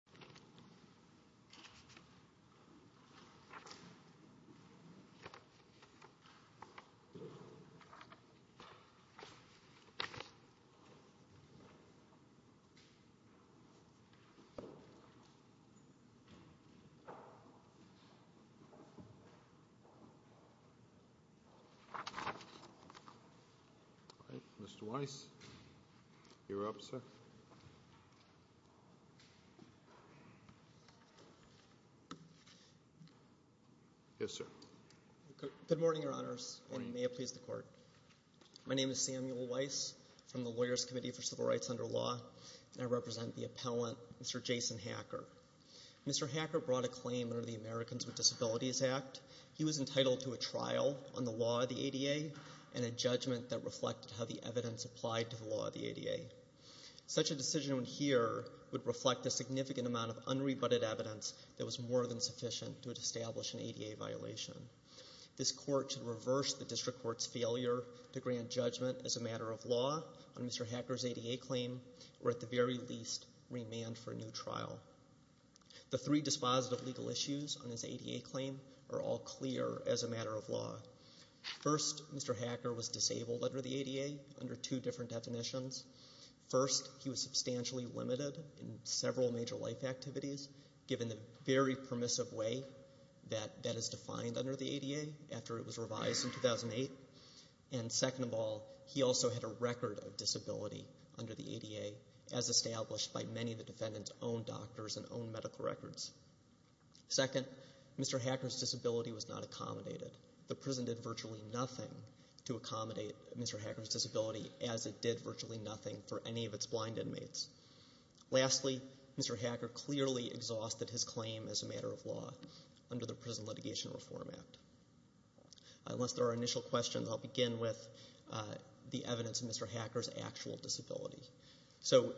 N. C. Hacker v. N. C. Cain N. C. C. Hacker v. N. C. C. C. C. Hacker v. N. C. C. C. C. C. C. First, Mr. Hacker was disabled under the ADA under two different definitions. First, he was substantially limited in several major life activities, given the very permissive way that that is defined under the ADA after it was revised in 2008. And second of all, he also had a record of disability under the ADA, as established by many of the defendant's own doctors and own medical records. Second, Mr. Hacker's disability was not accommodated. The prison did virtually nothing to accommodate Mr. Hacker's disability, as it did virtually nothing for any of its blind inmates. Lastly, Mr. Hacker clearly exhausted his claim as a matter of law under the Prison Litigation Reform Act. Unless there are initial questions, I'll begin with the evidence of Mr. Hacker's actual disability. So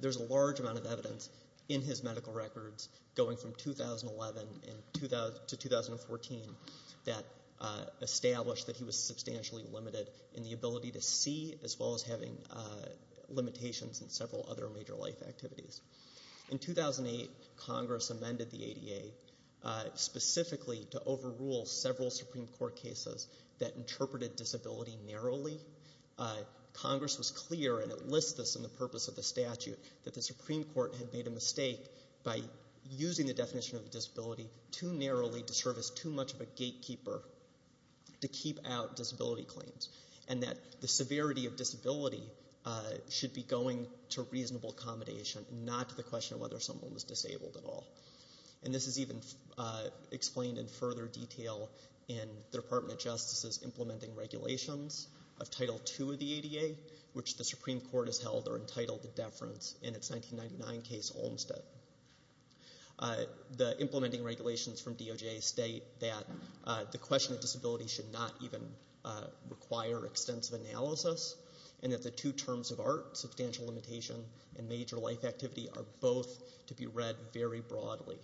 there's a large amount of evidence in his medical records going from 2011 to 2014 that established that he was substantially limited in the ability to see, as well as having limitations in several other major life activities. In 2008, Congress amended the ADA specifically to overrule several Supreme Court cases that interpreted disability narrowly. Congress was clear, and it lists this in the purpose of the statute, that the Supreme Court had made a mistake by using the definition of disability too narrowly to serve as too much of a gatekeeper to keep out disability claims, and that the severity of disability should be going to reasonable accommodation, not to the question of whether someone was disabled at all. And this is even explained in further detail in the Department of Justice's implementing regulations of Title II of the ADA, which the Supreme Court has held are entitled to deference in its 1999 case, Olmstead. The implementing regulations from DOJ state that the question of disability should not even require extensive analysis, and that the two terms of art, substantial limitation and major life activity, are both to be read very broadly.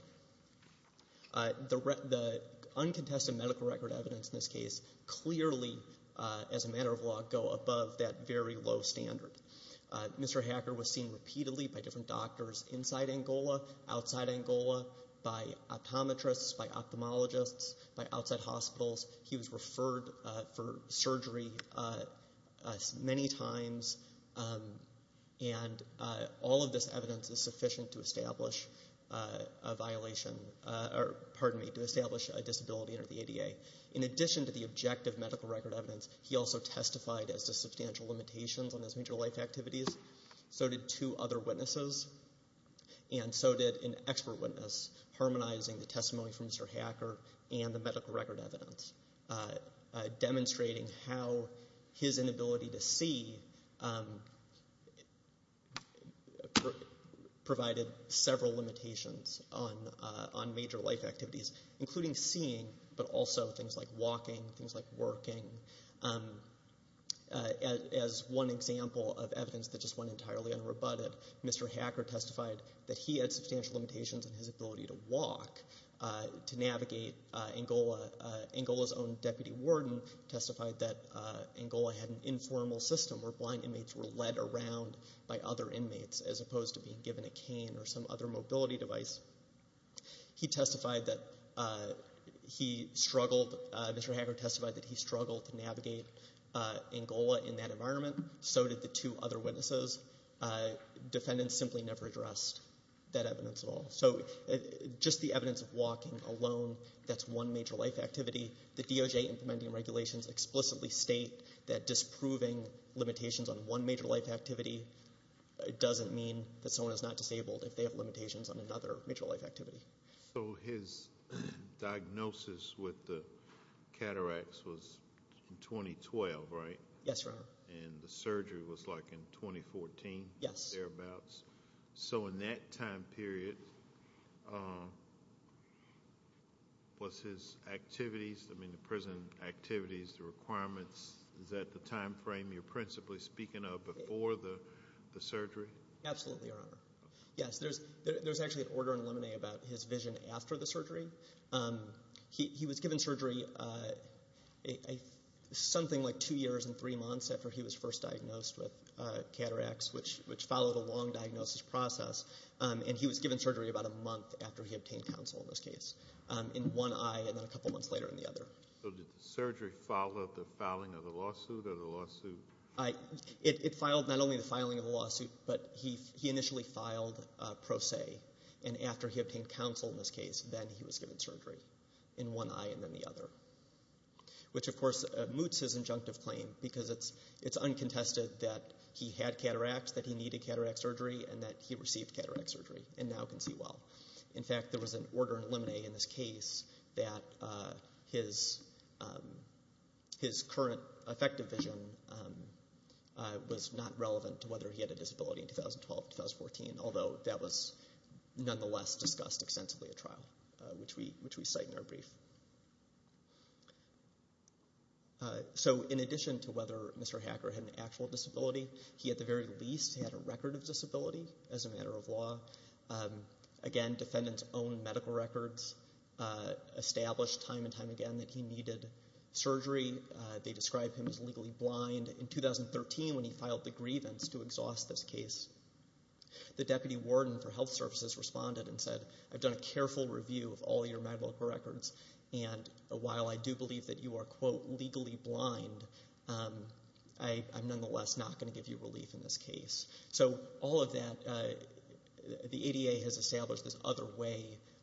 The uncontested medical record evidence in this case clearly, as a matter of law, go above that very low standard. Mr. Hacker was seen repeatedly by different doctors inside Angola, outside Angola, by optometrists, by ophthalmologists, by outside hospitals. He was referred for surgery many times, and all of this evidence is sufficient to establish a violation, or pardon me, to establish a disability under the ADA. In addition to the objective medical record evidence, he also testified as to substantial limitations on his major life activities. So did two other witnesses, and so did an expert witness, harmonizing the testimony from Mr. Hacker and the medical record evidence, demonstrating how his inability to see provided several limitations on major life activities, including seeing, but also things like walking, things like working. As one example of evidence that just went entirely unrebutted, Mr. Hacker testified that he had substantial limitations in his ability to walk, to navigate Angola. Angola's own deputy warden testified that Angola had an informal system where blind inmates were led around by other inmates, as opposed to being given a cane or some other mobility device. He testified that he struggled. Mr. Hacker testified that he struggled to navigate Angola in that environment. So did the two other witnesses. Defendants simply never addressed that evidence at all. So just the evidence of walking alone, that's one major life activity. The DOJ implementing regulations explicitly state that disproving limitations on one major life activity doesn't mean that someone is not disabled if they have limitations on another major life activity. So his diagnosis with the cataracts was in 2012, right? Yes, sir. And the surgery was like in 2014? Yes. So in that time period, was his activities, I mean the prison activities, the requirements, is that the time frame you're principally speaking of before the surgery? Absolutely, Your Honor. Yes, there's actually an order in lemonade about his vision after the surgery. He was given surgery something like two years and three months after he was first diagnosed with cataracts, which followed a long diagnosis process, and he was given surgery about a month after he obtained counsel in this case, in one eye and then a couple months later in the other. So did the surgery follow the filing of the lawsuit or the lawsuit? It filed not only the filing of the lawsuit, but he initially filed pro se, and after he obtained counsel in this case, then he was given surgery in one eye and then the other, which, of course, moots his injunctive claim because it's uncontested that he had cataracts, that he needed cataract surgery, and that he received cataract surgery and now can see well. In fact, there was an order in lemonade in this case that his current effective vision was not relevant to whether he had a disability in 2012, 2014, although that was nonetheless discussed extensively at trial, which we cite in our brief. So in addition to whether Mr. Hacker had an actual disability, he at the very least had a record of disability as a matter of law. Again, defendants' own medical records established time and time again that he needed surgery. They described him as legally blind in 2013 when he filed the grievance to exhaust this case. The deputy warden for health services responded and said, I've done a careful review of all your medical records, and while I do believe that you are, quote, legally blind, I'm nonetheless not going to give you relief in this case. So all of that, the ADA has established this other way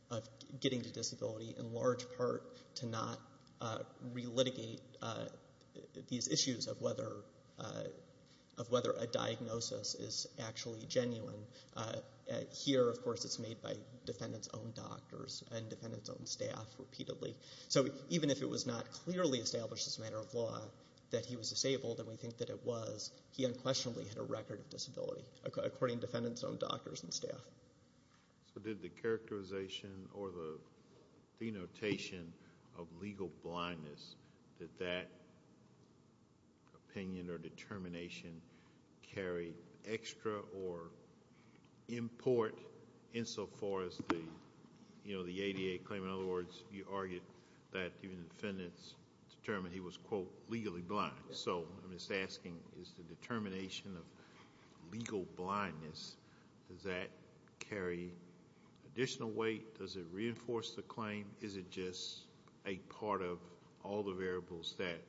of getting to disability, in large part to not relitigate these issues of whether a diagnosis is actually genuine. Here, of course, it's made by defendants' own doctors and defendants' own staff repeatedly. So even if it was not clearly established as a matter of law that he was disabled, and we think that it was, he unquestionably had a record of disability, So did the characterization or the denotation of legal blindness, did that opinion or determination carry extra or import insofar as the ADA claim? In other words, you argued that even defendants determined he was, quote, legally blind. So I'm just asking, is the determination of legal blindness, does that carry additional weight? Does it reinforce the claim? Is it just a part of all the variables that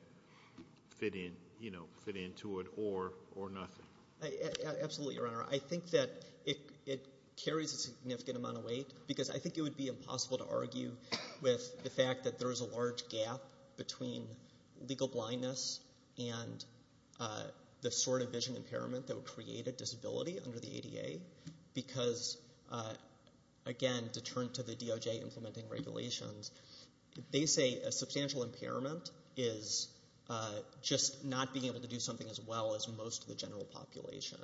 fit into it or nothing? Absolutely, Your Honor. I think that it carries a significant amount of weight because I think it would be impossible to argue with the fact that there is a large gap between legal blindness and the sort of vision impairment that would create a disability under the ADA because, again, to turn to the DOJ implementing regulations, they say a substantial impairment is just not being able to do something as well as most of the general population.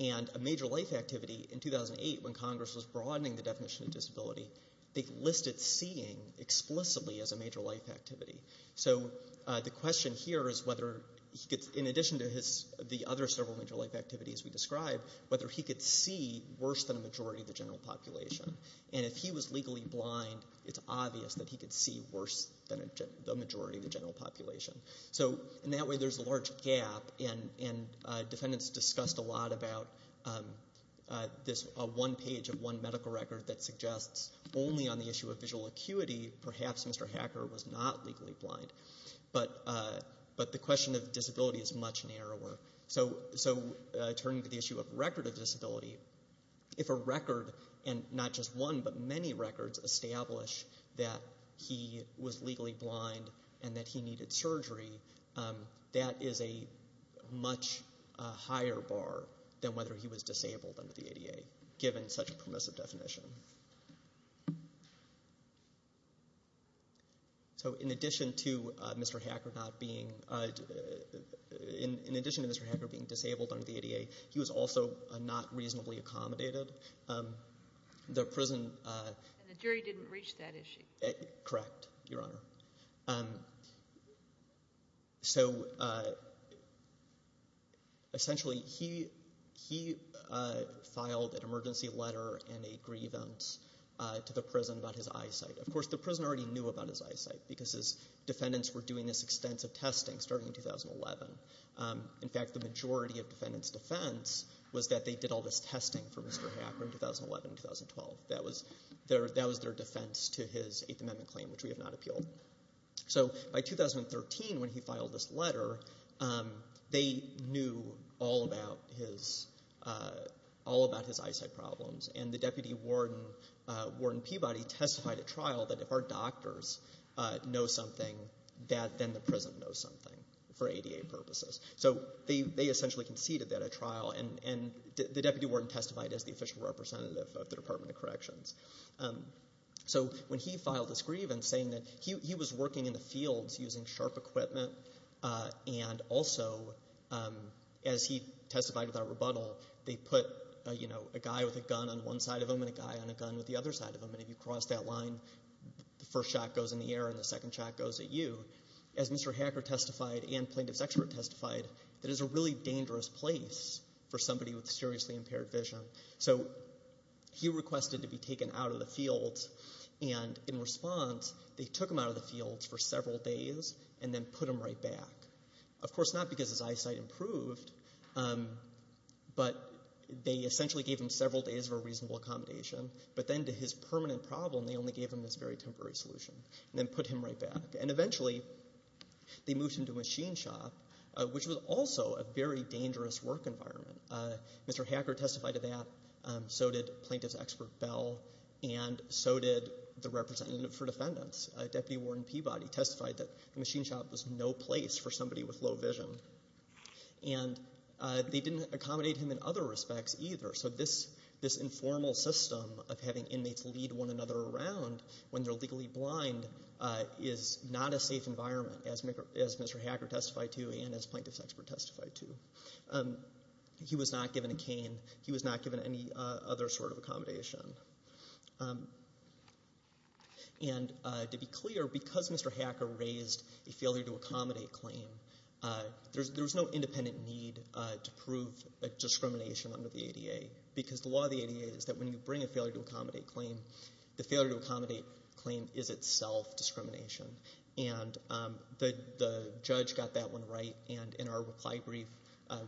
And a major life activity in 2008 when Congress was broadening the definition of disability, they listed seeing explicitly as a major life activity. So the question here is whether, in addition to the other several major life activities we described, whether he could see worse than a majority of the general population. And if he was legally blind, it's obvious that he could see worse than the majority of the general population. So in that way, there's a large gap, and defendants discussed a lot about this one page of one medical record that suggests only on the issue of visual acuity, perhaps Mr. Hacker was not legally blind. But the question of disability is much narrower. So turning to the issue of record of disability, if a record, and not just one, but many records establish that he was legally blind and that he needed surgery, that is a much higher bar than whether he was disabled under the ADA, given such a permissive definition. So in addition to Mr. Hacker not being, in addition to Mr. Hacker being disabled under the ADA, he was also not reasonably accommodated. And the jury didn't reach that issue. Correct, Your Honor. So essentially, he filed an emergency letter and a grievance to the prison about his eyesight. Of course, the prison already knew about his eyesight because his defendants were doing this extensive testing starting in 2011. In fact, the majority of defendants' defense was that they did all this testing for Mr. Hacker in 2011 and 2012. That was their defense to his Eighth Amendment claim, which we have not appealed. So by 2013, when he filed this letter, they knew all about his eyesight problems, and the deputy warden, Warden Peabody, testified at trial that if our doctors know something, then the prison knows something for ADA purposes. And the deputy warden testified as the official representative of the Department of Corrections. So when he filed this grievance saying that he was working in the fields using sharp equipment, and also as he testified without rebuttal, they put a guy with a gun on one side of him and a guy on a gun with the other side of him, and if you cross that line, the first shot goes in the air and the second shot goes at you. As Mr. Hacker testified and plaintiff's expert testified, that is a really dangerous place for somebody with seriously impaired vision. So he requested to be taken out of the fields, and in response, they took him out of the fields for several days and then put him right back. Of course, not because his eyesight improved, but they essentially gave him several days of a reasonable accommodation, but then to his permanent problem, they only gave him this very temporary solution and then put him right back. And eventually, they moved him to a machine shop, which was also a very dangerous work environment. Mr. Hacker testified to that. So did plaintiff's expert, Bell, and so did the representative for defendants. Deputy warden Peabody testified that the machine shop was no place for somebody with low vision. And they didn't accommodate him in other respects either. So this informal system of having inmates lead one another around when they're legally blind is not a safe environment, as Mr. Hacker testified to and as plaintiff's expert testified to. He was not given a cane. He was not given any other sort of accommodation. And to be clear, because Mr. Hacker raised a failure to accommodate claim, there was no independent need to prove discrimination under the ADA because the law of the ADA is that when you bring a failure to accommodate claim, the failure to accommodate claim is itself discrimination. And the judge got that one right, and in our reply brief,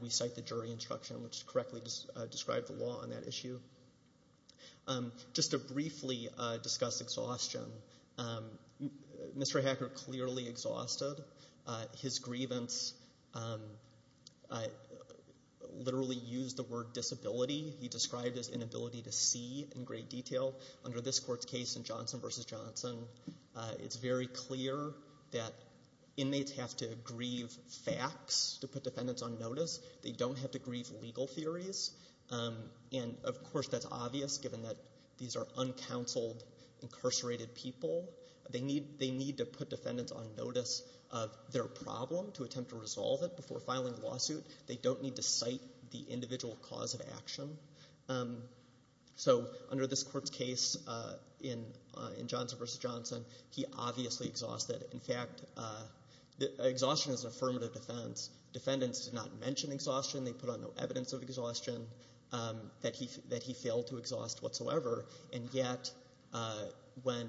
we cite the jury instruction, which correctly described the law on that issue. Just to briefly discuss exhaustion, Mr. Hacker clearly exhausted his grievance. He literally used the word disability. He described his inability to see in great detail. Under this court's case in Johnson v. Johnson, it's very clear that inmates have to grieve facts to put defendants on notice. They don't have to grieve legal theories. And, of course, that's obvious given that these are uncounseled, incarcerated people. They need to put defendants on notice of their problem to attempt to resolve it before filing a lawsuit. They don't need to cite the individual cause of action. So under this court's case in Johnson v. Johnson, he obviously exhausted. In fact, exhaustion is an affirmative defense. Defendants did not mention exhaustion. They put on no evidence of exhaustion that he failed to exhaust whatsoever. And yet when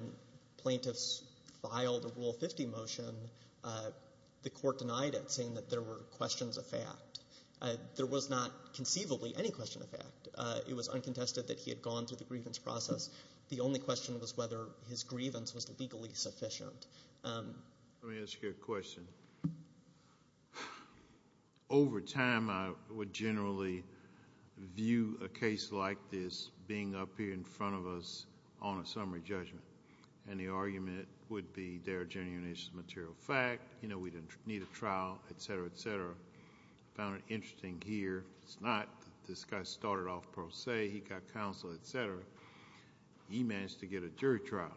plaintiffs filed a Rule 50 motion, the court denied it, saying that there were questions of fact. There was not conceivably any question of fact. It was uncontested that he had gone through the grievance process. The only question was whether his grievance was legally sufficient. Let me ask you a question. Over time, I would generally view a case like this being up here in front of us on a summary judgment. And the argument would be there are genuine issues of material fact. You know, we didn't need a trial, et cetera, et cetera. I found it interesting here. It's not that this guy started off per se. He got counsel, et cetera. He managed to get a jury trial,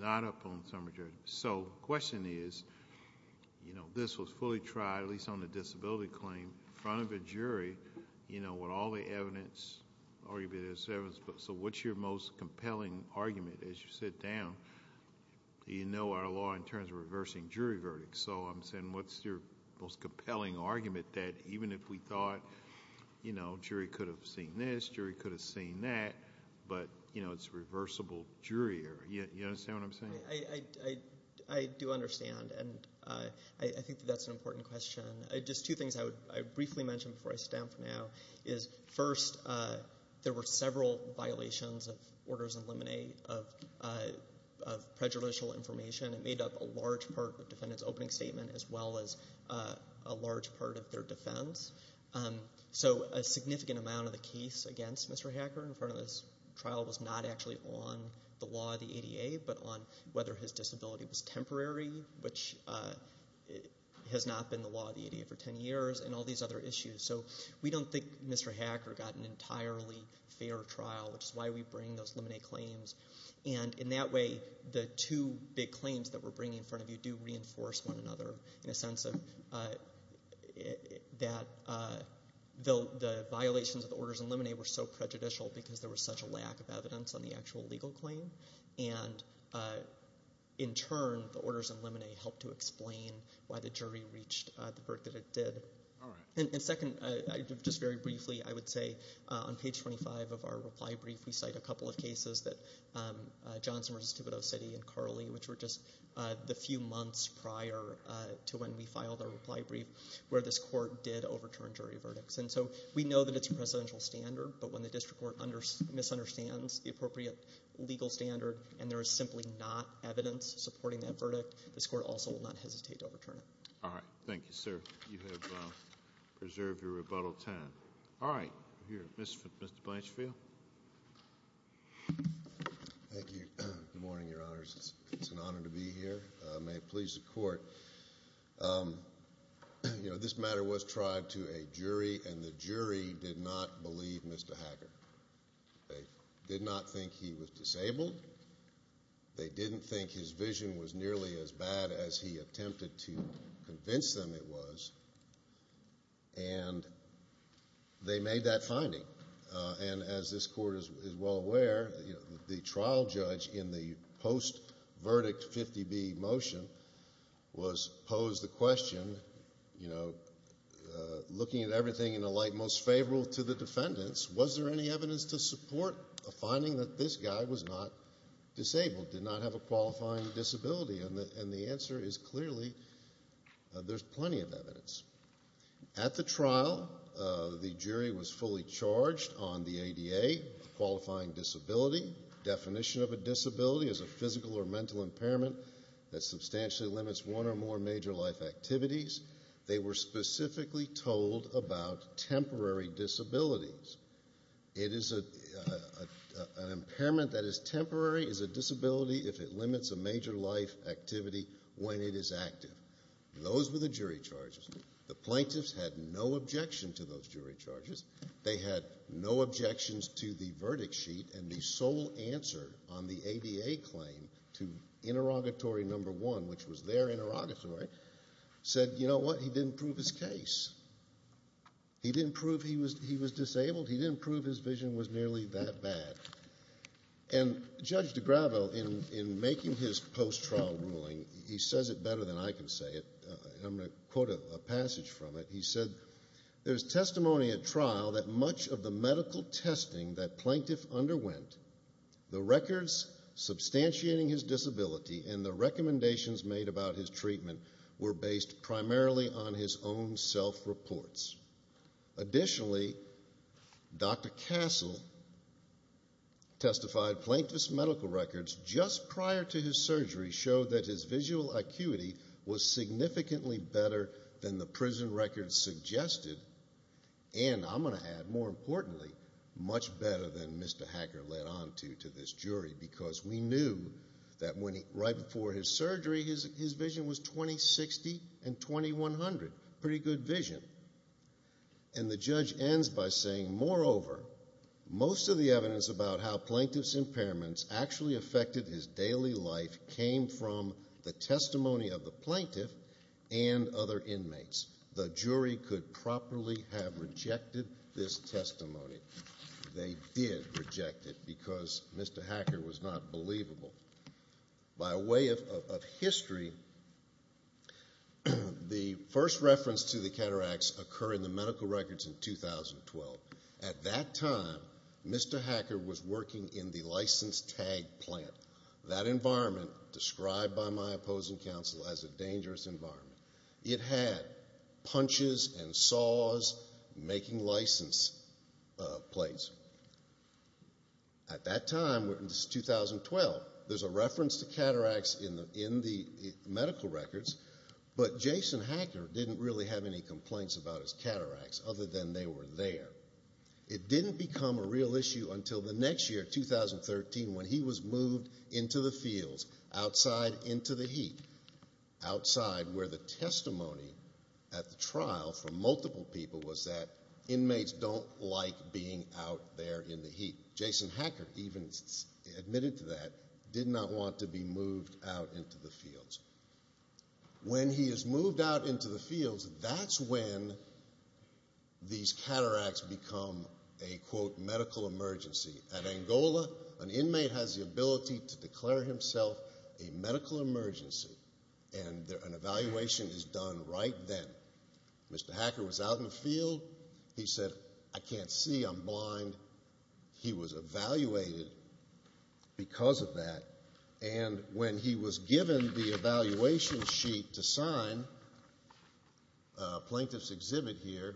not up on summary judgment. So the question is, you know, this was fully tried, at least on the disability claim, in front of a jury. You know, with all the evidence, so what's your most compelling argument as you sit down? You know our law in terms of reversing jury verdicts. So I'm saying what's your most compelling argument that even if we thought, you know, jury could have seen this, jury could have seen that, but, you know, it's reversible jury error. You understand what I'm saying? I do understand, and I think that that's an important question. Just two things I would briefly mention before I sit down for now is, first, there were several violations of orders in limine of prejudicial information. It made up a large part of the defendant's opening statement as well as a large part of their defense. So a significant amount of the case against Mr. Hacker in front of this trial was not actually on the law of the ADA, but on whether his disability was temporary, which has not been the law of the ADA for 10 years, and all these other issues. So we don't think Mr. Hacker got an entirely fair trial, which is why we bring those limine claims. And in that way, the two big claims that we're bringing in front of you do reinforce one another in a sense that the violations of the orders in limine were so prejudicial because there was such a lack of evidence on the actual legal claim, and in turn, the orders in limine helped to explain why the jury reached the berth that it did. All right. And second, just very briefly, I would say on page 25 of our reply brief, we cite a couple of cases that Johnson v. Thibodeau City and Carly, which were just the few months prior to when we filed our reply brief where this court did overturn jury verdicts. And so we know that it's a presidential standard, but when the district court misunderstands the appropriate legal standard and there is simply not evidence supporting that verdict, this court also will not hesitate to overturn it. All right. Thank you, sir. You have preserved your rebuttal time. All right. Mr. Blanchfield. Thank you. Good morning, Your Honors. It's an honor to be here. May it please the court. You know, this matter was tried to a jury, and the jury did not believe Mr. Hacker. They did not think he was disabled. They didn't think his vision was nearly as bad as he attempted to convince them it was. And they made that finding. And as this court is well aware, the trial judge in the post-verdict 50B motion was posed the question, you know, looking at everything in the light most favorable to the defendants, was there any evidence to support the finding that this guy was not disabled, did not have a qualifying disability? And the answer is clearly there's plenty of evidence. At the trial, the jury was fully charged on the ADA qualifying disability. Definition of a disability is a physical or mental impairment that substantially limits one or more major life activities. They were specifically told about temporary disabilities. It is an impairment that is temporary as a disability if it limits a major life activity when it is active. Those were the jury charges. The plaintiffs had no objection to those jury charges. They had no objections to the verdict sheet, and the sole answer on the ADA claim to interrogatory number one, which was their interrogatory, said, you know what, he didn't prove his case. He didn't prove he was disabled. He didn't prove his vision was nearly that bad. And Judge DiGravo, in making his post-trial ruling, he says it better than I can say it, and I'm going to quote a passage from it. He said, there's testimony at trial that much of the medical testing that Plaintiff underwent, the records substantiating his disability, and the recommendations made about his treatment were based primarily on his own self-reports. Additionally, Dr. Castle testified Plaintiff's medical records just prior to his surgery showed that his visual acuity was significantly better than the prison records suggested, and I'm going to add, more importantly, much better than Mr. Hacker led on to to this jury, because we knew that right before his surgery his vision was 2060 and 2100. Pretty good vision. And the judge ends by saying, moreover, most of the evidence about how Plaintiff's impairments actually affected his daily life came from the testimony of the Plaintiff and other inmates. The jury could properly have rejected this testimony. They did reject it because Mr. Hacker was not believable. By way of history, the first reference to the cataracts occur in the medical records in 2012. At that time, Mr. Hacker was working in the license tag plant, that environment described by my opposing counsel as a dangerous environment. It had punches and saws making license plates. At that time, this is 2012, there's a reference to cataracts in the medical records, but Jason Hacker didn't really have any complaints about his cataracts other than they were there. It didn't become a real issue until the next year, 2013, when he was moved into the fields, outside into the heat, outside where the testimony at the trial from multiple people was that inmates don't like being out there in the heat. Jason Hacker even admitted to that, did not want to be moved out into the fields. When he is moved out into the fields, that's when these cataracts become a, quote, medical emergency. At Angola, an inmate has the ability to declare himself a medical emergency, and an evaluation is done right then. Mr. Hacker was out in the field. He said, I can't see, I'm blind. He was evaluated because of that. And when he was given the evaluation sheet to sign, a plaintiff's exhibit here,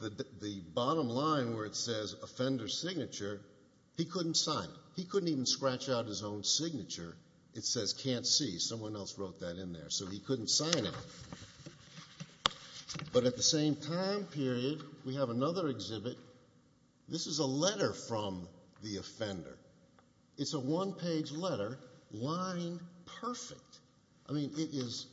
the bottom line where it says, offender's signature, he couldn't sign it. He couldn't even scratch out his own signature. It says, can't see. Someone else wrote that in there. So he couldn't sign it. But at the same time period, we have another exhibit. This is a letter from the offender. It's a one-page letter, line perfect. I mean, it is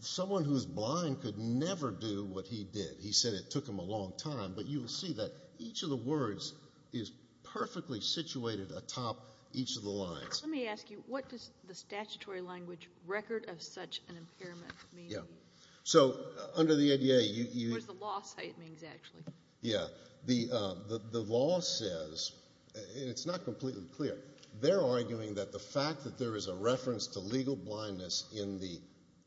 someone who is blind could never do what he did. He said it took him a long time. But you will see that each of the words is perfectly situated atop each of the lines. Let me ask you, what does the statutory language record of such an impairment mean? Yeah. So under the ADA, you... What does the law say it means, actually? Yeah. The law says, and it's not completely clear, they're arguing that the fact that there is a reference to legal blindness in the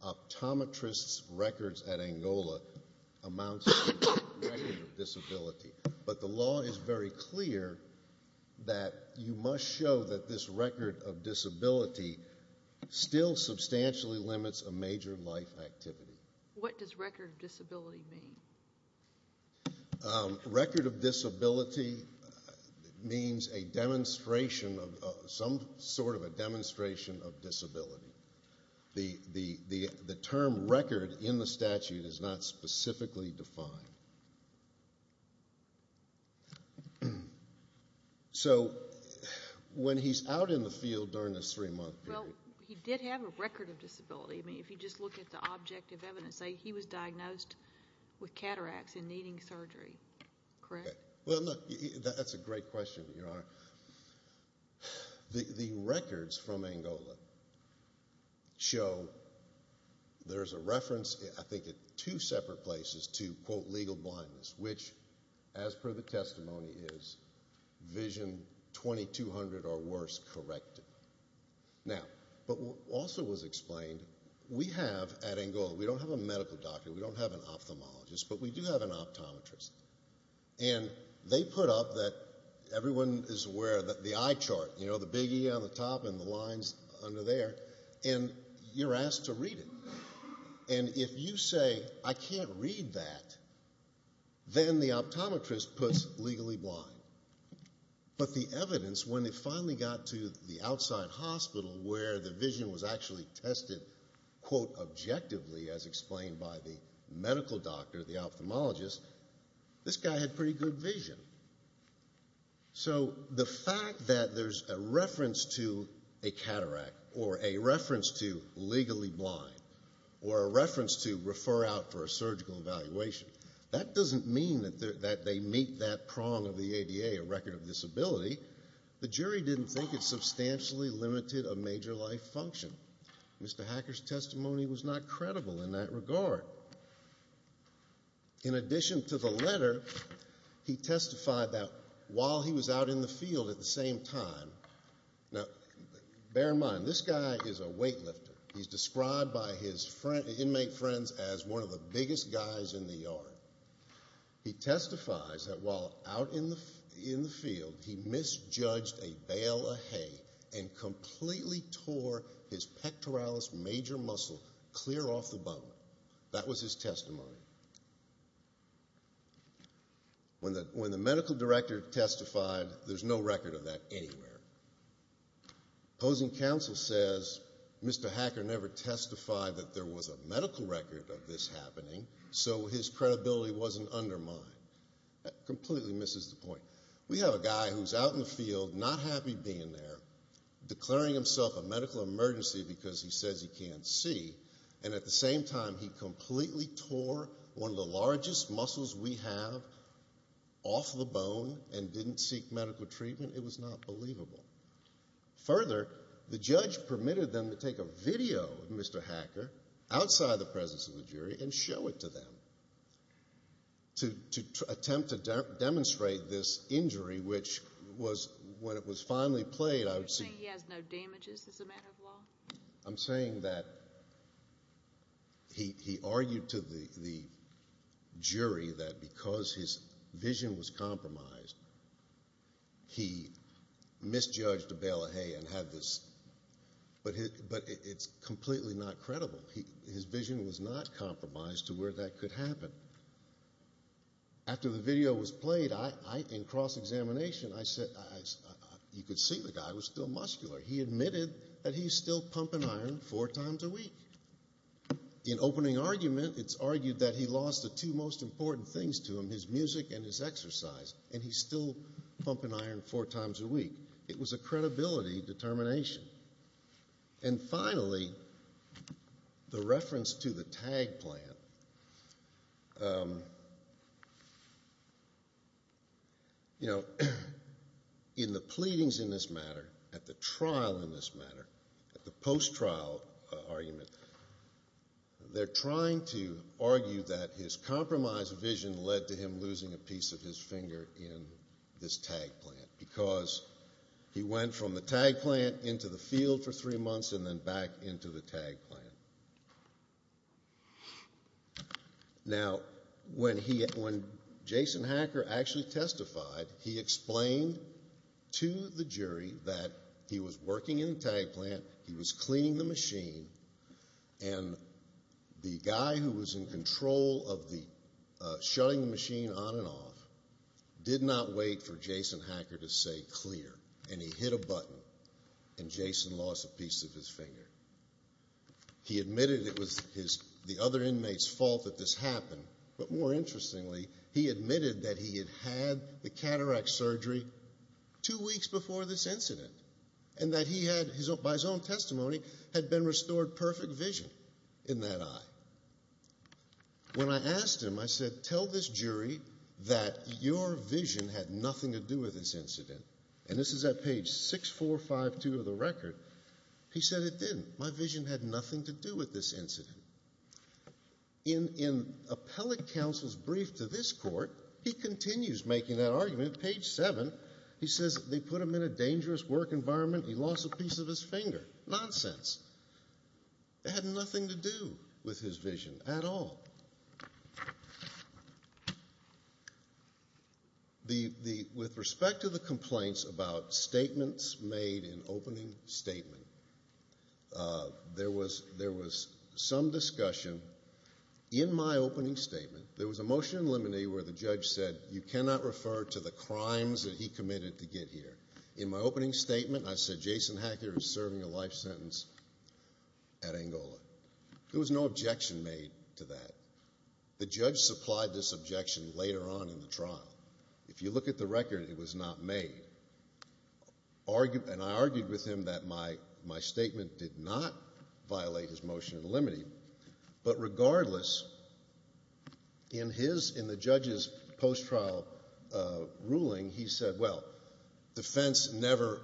optometrists' records at Angola amounts to a record of disability. But the law is very clear that you must show that this record of disability still substantially limits a major life activity. What does record of disability mean? Record of disability means a demonstration of some sort of a demonstration of disability. The term record in the statute is not specifically defined. So when he's out in the field during this three-month period... Well, he did have a record of disability. I mean, if you just look at the objective evidence, say he was diagnosed with cataracts and needing surgery, correct? Well, look, that's a great question, Your Honor. The records from Angola show there's a reference, I think, at two separate places to, quote, legal blindness, which, as per the testimony, is Vision 2200 or worse corrected. Now, but what also was explained, we have at Angola, we don't have a medical doctor, we don't have an ophthalmologist, but we do have an optometrist. And they put up that everyone is aware that the eye chart, you know, the big E on the top and the lines under there, and you're asked to read it. And if you say, I can't read that, then the optometrist puts legally blind. But the evidence, when it finally got to the outside hospital where the vision was actually tested, quote, objectively, as explained by the medical doctor, the ophthalmologist, this guy had pretty good vision. So the fact that there's a reference to a cataract or a reference to legally blind or a reference to refer out for a surgical evaluation, that doesn't mean that they meet that prong of the ADA, a record of disability. The jury didn't think it substantially limited a major life function. Mr. Hacker's testimony was not credible in that regard. In addition to the letter, he testified that while he was out in the field at the same time, now bear in mind, this guy is a weightlifter. He's described by his inmate friends as one of the biggest guys in the yard. He testifies that while out in the field, he misjudged a bale of hay and completely tore his pectoralis major muscle clear off the bone. That was his testimony. When the medical director testified, there's no record of that anywhere. Opposing counsel says Mr. Hacker never testified that there was a medical record of this happening, so his credibility wasn't undermined. That completely misses the point. We have a guy who's out in the field, not happy being there, declaring himself a medical emergency because he says he can't see, and at the same time, he completely tore one of the largest muscles we have off the bone and didn't seek medical treatment. It was not believable. Further, the judge permitted them to take a video of Mr. Hacker outside the presence of the jury and show it to them to attempt to demonstrate this injury, which was when it was finally played. You're saying he has no damages as a matter of law? I'm saying that he argued to the jury that because his vision was compromised, he misjudged a bale of hay and had this, but it's completely not credible. His vision was not compromised to where that could happen. After the video was played, in cross-examination, you could see the guy was still muscular. He admitted that he's still pumping iron four times a week. In opening argument, it's argued that he lost the two most important things to him, his music and his exercise, and he's still pumping iron four times a week. It was a credibility determination. And finally, the reference to the tag plant. You know, in the pleadings in this matter, at the trial in this matter, at the post-trial argument, they're trying to argue that his compromised vision led to him losing a piece of his finger in this tag plant because he went from the tag plant into the field for three months and then back into the tag plant. Now, when Jason Hacker actually testified, he explained to the jury that he was working in the tag plant, he was cleaning the machine, and the guy who was in control of shutting the machine on and off did not wait for Jason Hacker to say clear, and he hit a button, and Jason lost a piece of his finger. He admitted it was the other inmate's fault that this happened, but more interestingly, he admitted that he had had the cataract surgery two weeks before this incident and that he had, by his own testimony, had been restored perfect vision in that eye. When I asked him, I said, tell this jury that your vision had nothing to do with this incident, and this is at page 6452 of the record, he said it didn't. My vision had nothing to do with this incident. In appellate counsel's brief to this court, he continues making that argument. Page 7, he says they put him in a dangerous work environment. He lost a piece of his finger. Nonsense. It had nothing to do with his vision at all. With respect to the complaints about statements made in opening statement, there was some discussion. In my opening statement, there was a motion in limine where the judge said you cannot refer to the crimes that he committed to get here. In my opening statement, I said Jason Hacker is serving a life sentence at Angola. There was no objection made to that. The judge supplied this objection later on in the trial. If you look at the record, it was not made. And I argued with him that my statement did not violate his motion in limine. But regardless, in the judge's post-trial ruling, he said, well, defense never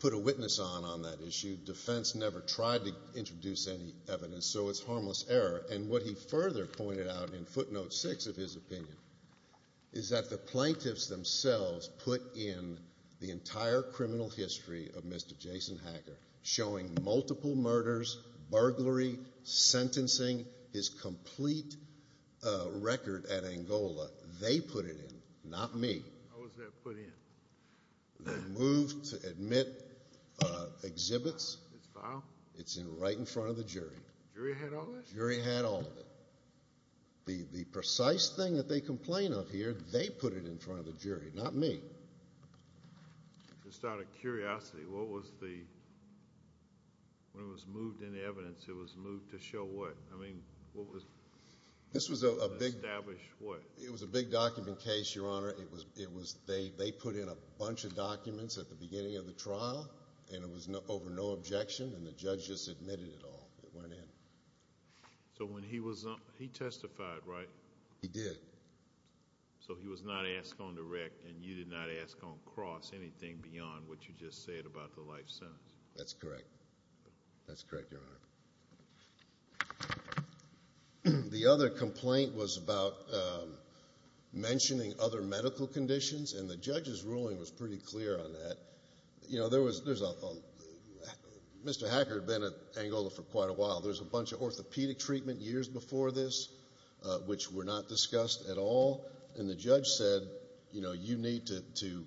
put a witness on on that issue. Defense never tried to introduce any evidence, so it's harmless error. And what he further pointed out in footnote six of his opinion is that the plaintiffs themselves put in the entire criminal history of Mr. Jason Hacker, showing multiple murders, burglary, sentencing, his complete record at Angola. They put it in, not me. How was that put in? They moved to admit exhibits. It's filed? It's right in front of the jury. The jury had all of it? The jury had all of it. The precise thing that they complain of here, they put it in front of the jury, not me. Just out of curiosity, what was the – when it was moved in the evidence, it was moved to show what? I mean, what was – This was a big – Establish what? It was a big document case, Your Honor. They put in a bunch of documents at the beginning of the trial, and it was over no objection, and the judge just admitted it all. It went in. So when he was – he testified, right? He did. So he was not asked on direct, and you did not ask on cross anything beyond what you just said about the life sentence? That's correct. That's correct, Your Honor. The other complaint was about mentioning other medical conditions, and the judge's ruling was pretty clear on that. You know, there was – Mr. Hacker had been at Angola for quite a while. There was a bunch of orthopedic treatment years before this which were not discussed at all, and the judge said, you know, you need to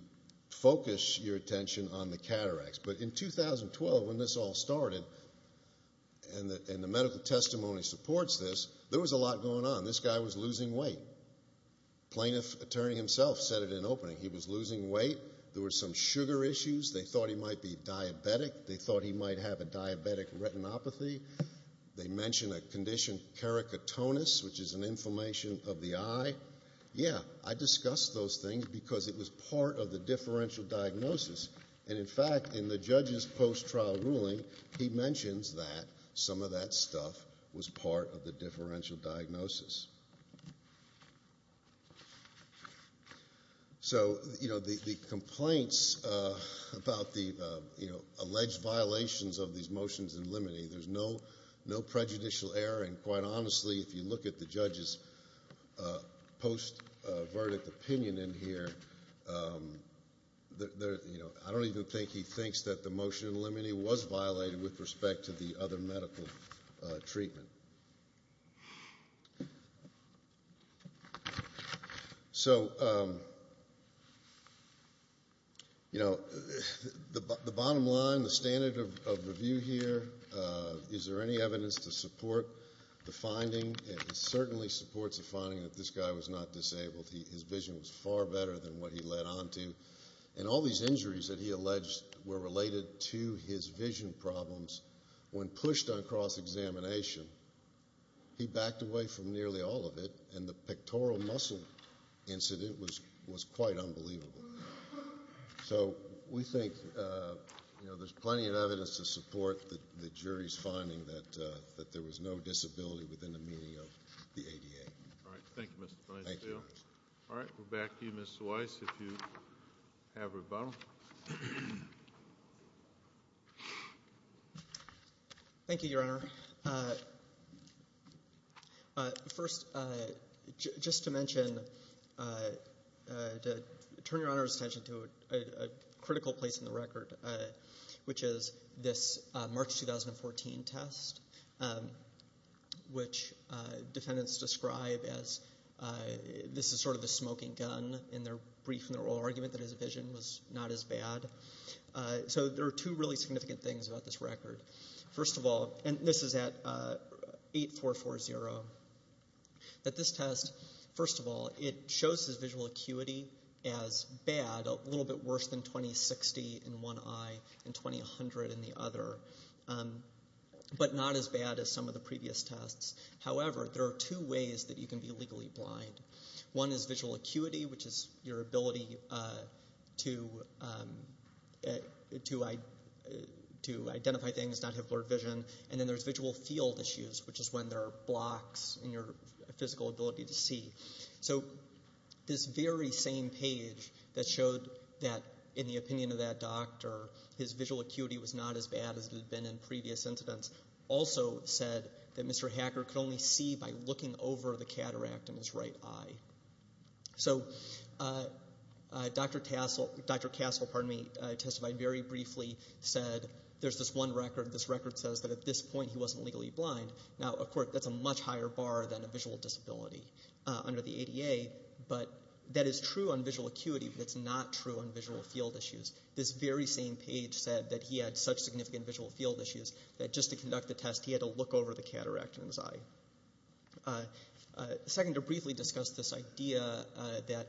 focus your attention on the cataracts. But in 2012, when this all started, and the medical testimony supports this, there was a lot going on. This guy was losing weight. Plaintiff attorney himself said it in opening. He was losing weight. There were some sugar issues. They thought he might be diabetic. They thought he might have a diabetic retinopathy. They mentioned a condition, keratotonus, which is an inflammation of the eye. Yeah, I discussed those things because it was part of the differential diagnosis. And, in fact, in the judge's post-trial ruling, he mentions that some of that stuff was part of the differential diagnosis. So, you know, the complaints about the, you know, alleged violations of these motions in limine. There's no prejudicial error, and quite honestly, if you look at the judge's post-verdict opinion in here, I don't even think he thinks that the motion in limine was violated with respect to the other medical treatment. So, you know, the bottom line, the standard of review here, is there any evidence to support the finding? It certainly supports the finding that this guy was not disabled. His vision was far better than what he led on to. And all these injuries that he alleged were related to his vision problems when pushed on cross-examination, he backed away from nearly all of it, and the pectoral muscle incident was quite unbelievable. So we think, you know, there's plenty of evidence to support the jury's finding that there was no disability within the meaning of the ADA. All right. Thank you, Mr. Feinstein. All right. We'll go back to you, Ms. Weiss, if you have rebuttal. Thank you, Your Honor. First, just to mention, to turn Your Honor's attention to a critical place in the record, which is this March 2014 test, which defendants describe as this is sort of a smoking gun in their brief and oral argument that his vision was not as bad. So there are two really significant things about this record. First of all, and this is at 8-440, that this test, first of all, it shows his visual acuity as bad, a little bit worse than 2060 in one eye and 2100 in the other, but not as bad as some of the previous tests. However, there are two ways that you can be legally blind. One is visual acuity, which is your ability to identify things, not have blurred vision, and then there's visual field issues, which is when there are blocks in your physical ability to see. So this very same page that showed that in the opinion of that doctor, his visual acuity was not as bad as it had been in previous incidents, also said that Mr. Hacker could only see by looking over the cataract in his right eye. So Dr. Castle testified very briefly, said there's this one record, this record says that at this point he wasn't legally blind. Now, of course, that's a much higher bar than a visual disability under the ADA, but that is true on visual acuity, but it's not true on visual field issues. This very same page said that he had such significant visual field issues that just to conduct the test he had to look over the cataract in his eye. Second, to briefly discuss this idea that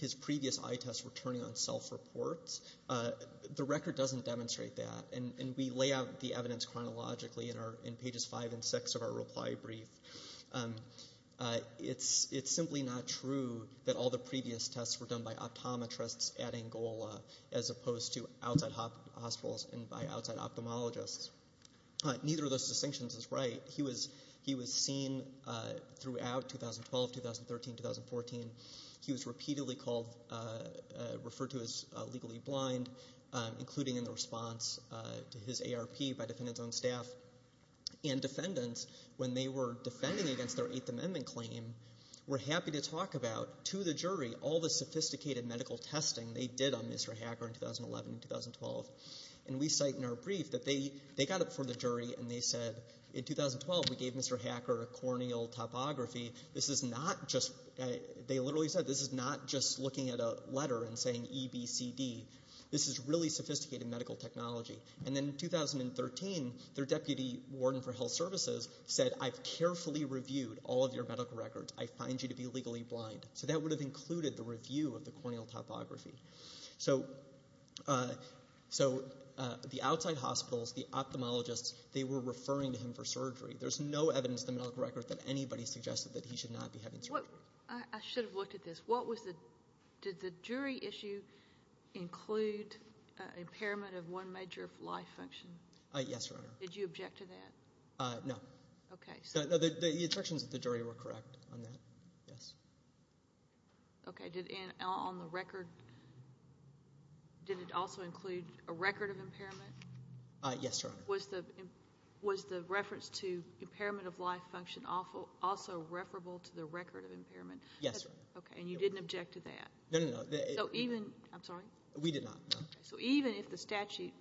his previous eye tests were turning on self-reports, the record doesn't demonstrate that, and we lay out the evidence chronologically in pages five and six of our reply brief. It's simply not true that all the previous tests were done by optometrists at Angola as opposed to outside hospitals and by outside ophthalmologists. Neither of those distinctions is right. He was seen throughout 2012, 2013, 2014. He was repeatedly referred to as legally blind, including in the response to his ARP by defendants on staff. And defendants, when they were defending against their Eighth Amendment claim, were happy to talk about to the jury all the sophisticated medical testing they did on Mr. Hacker in 2011 and 2012. And we cite in our brief that they got up before the jury and they said, In 2012, we gave Mr. Hacker a corneal topography. This is not just, they literally said, this is not just looking at a letter and saying EBCD. This is really sophisticated medical technology. And then in 2013, their deputy warden for health services said, I've carefully reviewed all of your medical records. I find you to be legally blind. So that would have included the review of the corneal topography. So the outside hospitals, the ophthalmologists, they were referring to him for surgery. There's no evidence in the medical record that anybody suggested that he should not be having surgery. I should have looked at this. Did the jury issue include impairment of one major life function? Yes, Your Honor. Did you object to that? No. Okay. The instructions of the jury were correct on that, yes. Okay. And on the record, did it also include a record of impairment? Yes, Your Honor. Was the reference to impairment of life function also referable to the record of impairment? Yes, Your Honor. Okay. And you didn't object to that? No, no, no. I'm sorry? We did not, no. So even if the statute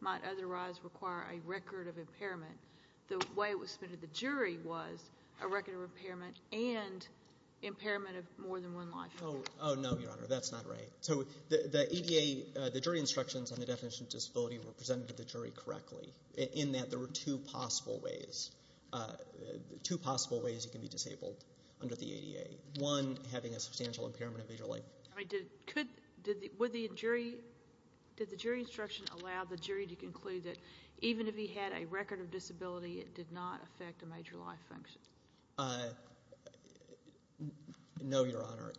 might otherwise require a record of impairment, the way it was submitted to the jury was a record of impairment and impairment of more than one life function. Oh, no, Your Honor. That's not right. So the ADA, the jury instructions on the definition of disability were presented to the jury correctly in that there were two possible ways. Two possible ways he could be disabled under the ADA. One, having a substantial impairment of major life. I mean, did the jury instruction allow the jury to conclude that even if he had a record of disability, it did not affect a major life function? No, Your Honor.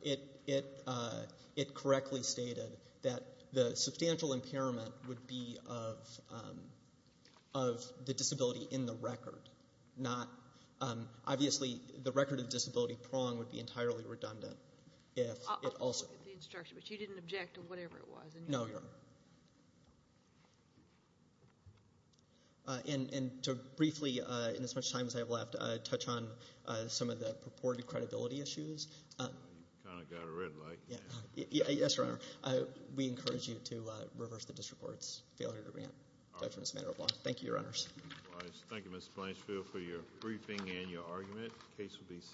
It correctly stated that the substantial impairment would be of the disability in the record. Obviously, the record of disability prong would be entirely redundant. I'll look at the instruction, but you didn't object to whatever it was. No, Your Honor. And to briefly, in as much time as I have left, touch on some of the purported credibility issues. You kind of got a red light. Yes, Your Honor. We encourage you to reverse the district court's failure to grant judgment as a matter of law. Thank you, Your Honors. Thank you, Mr. Blanchfield, for your briefing and your argument. The case will be seated.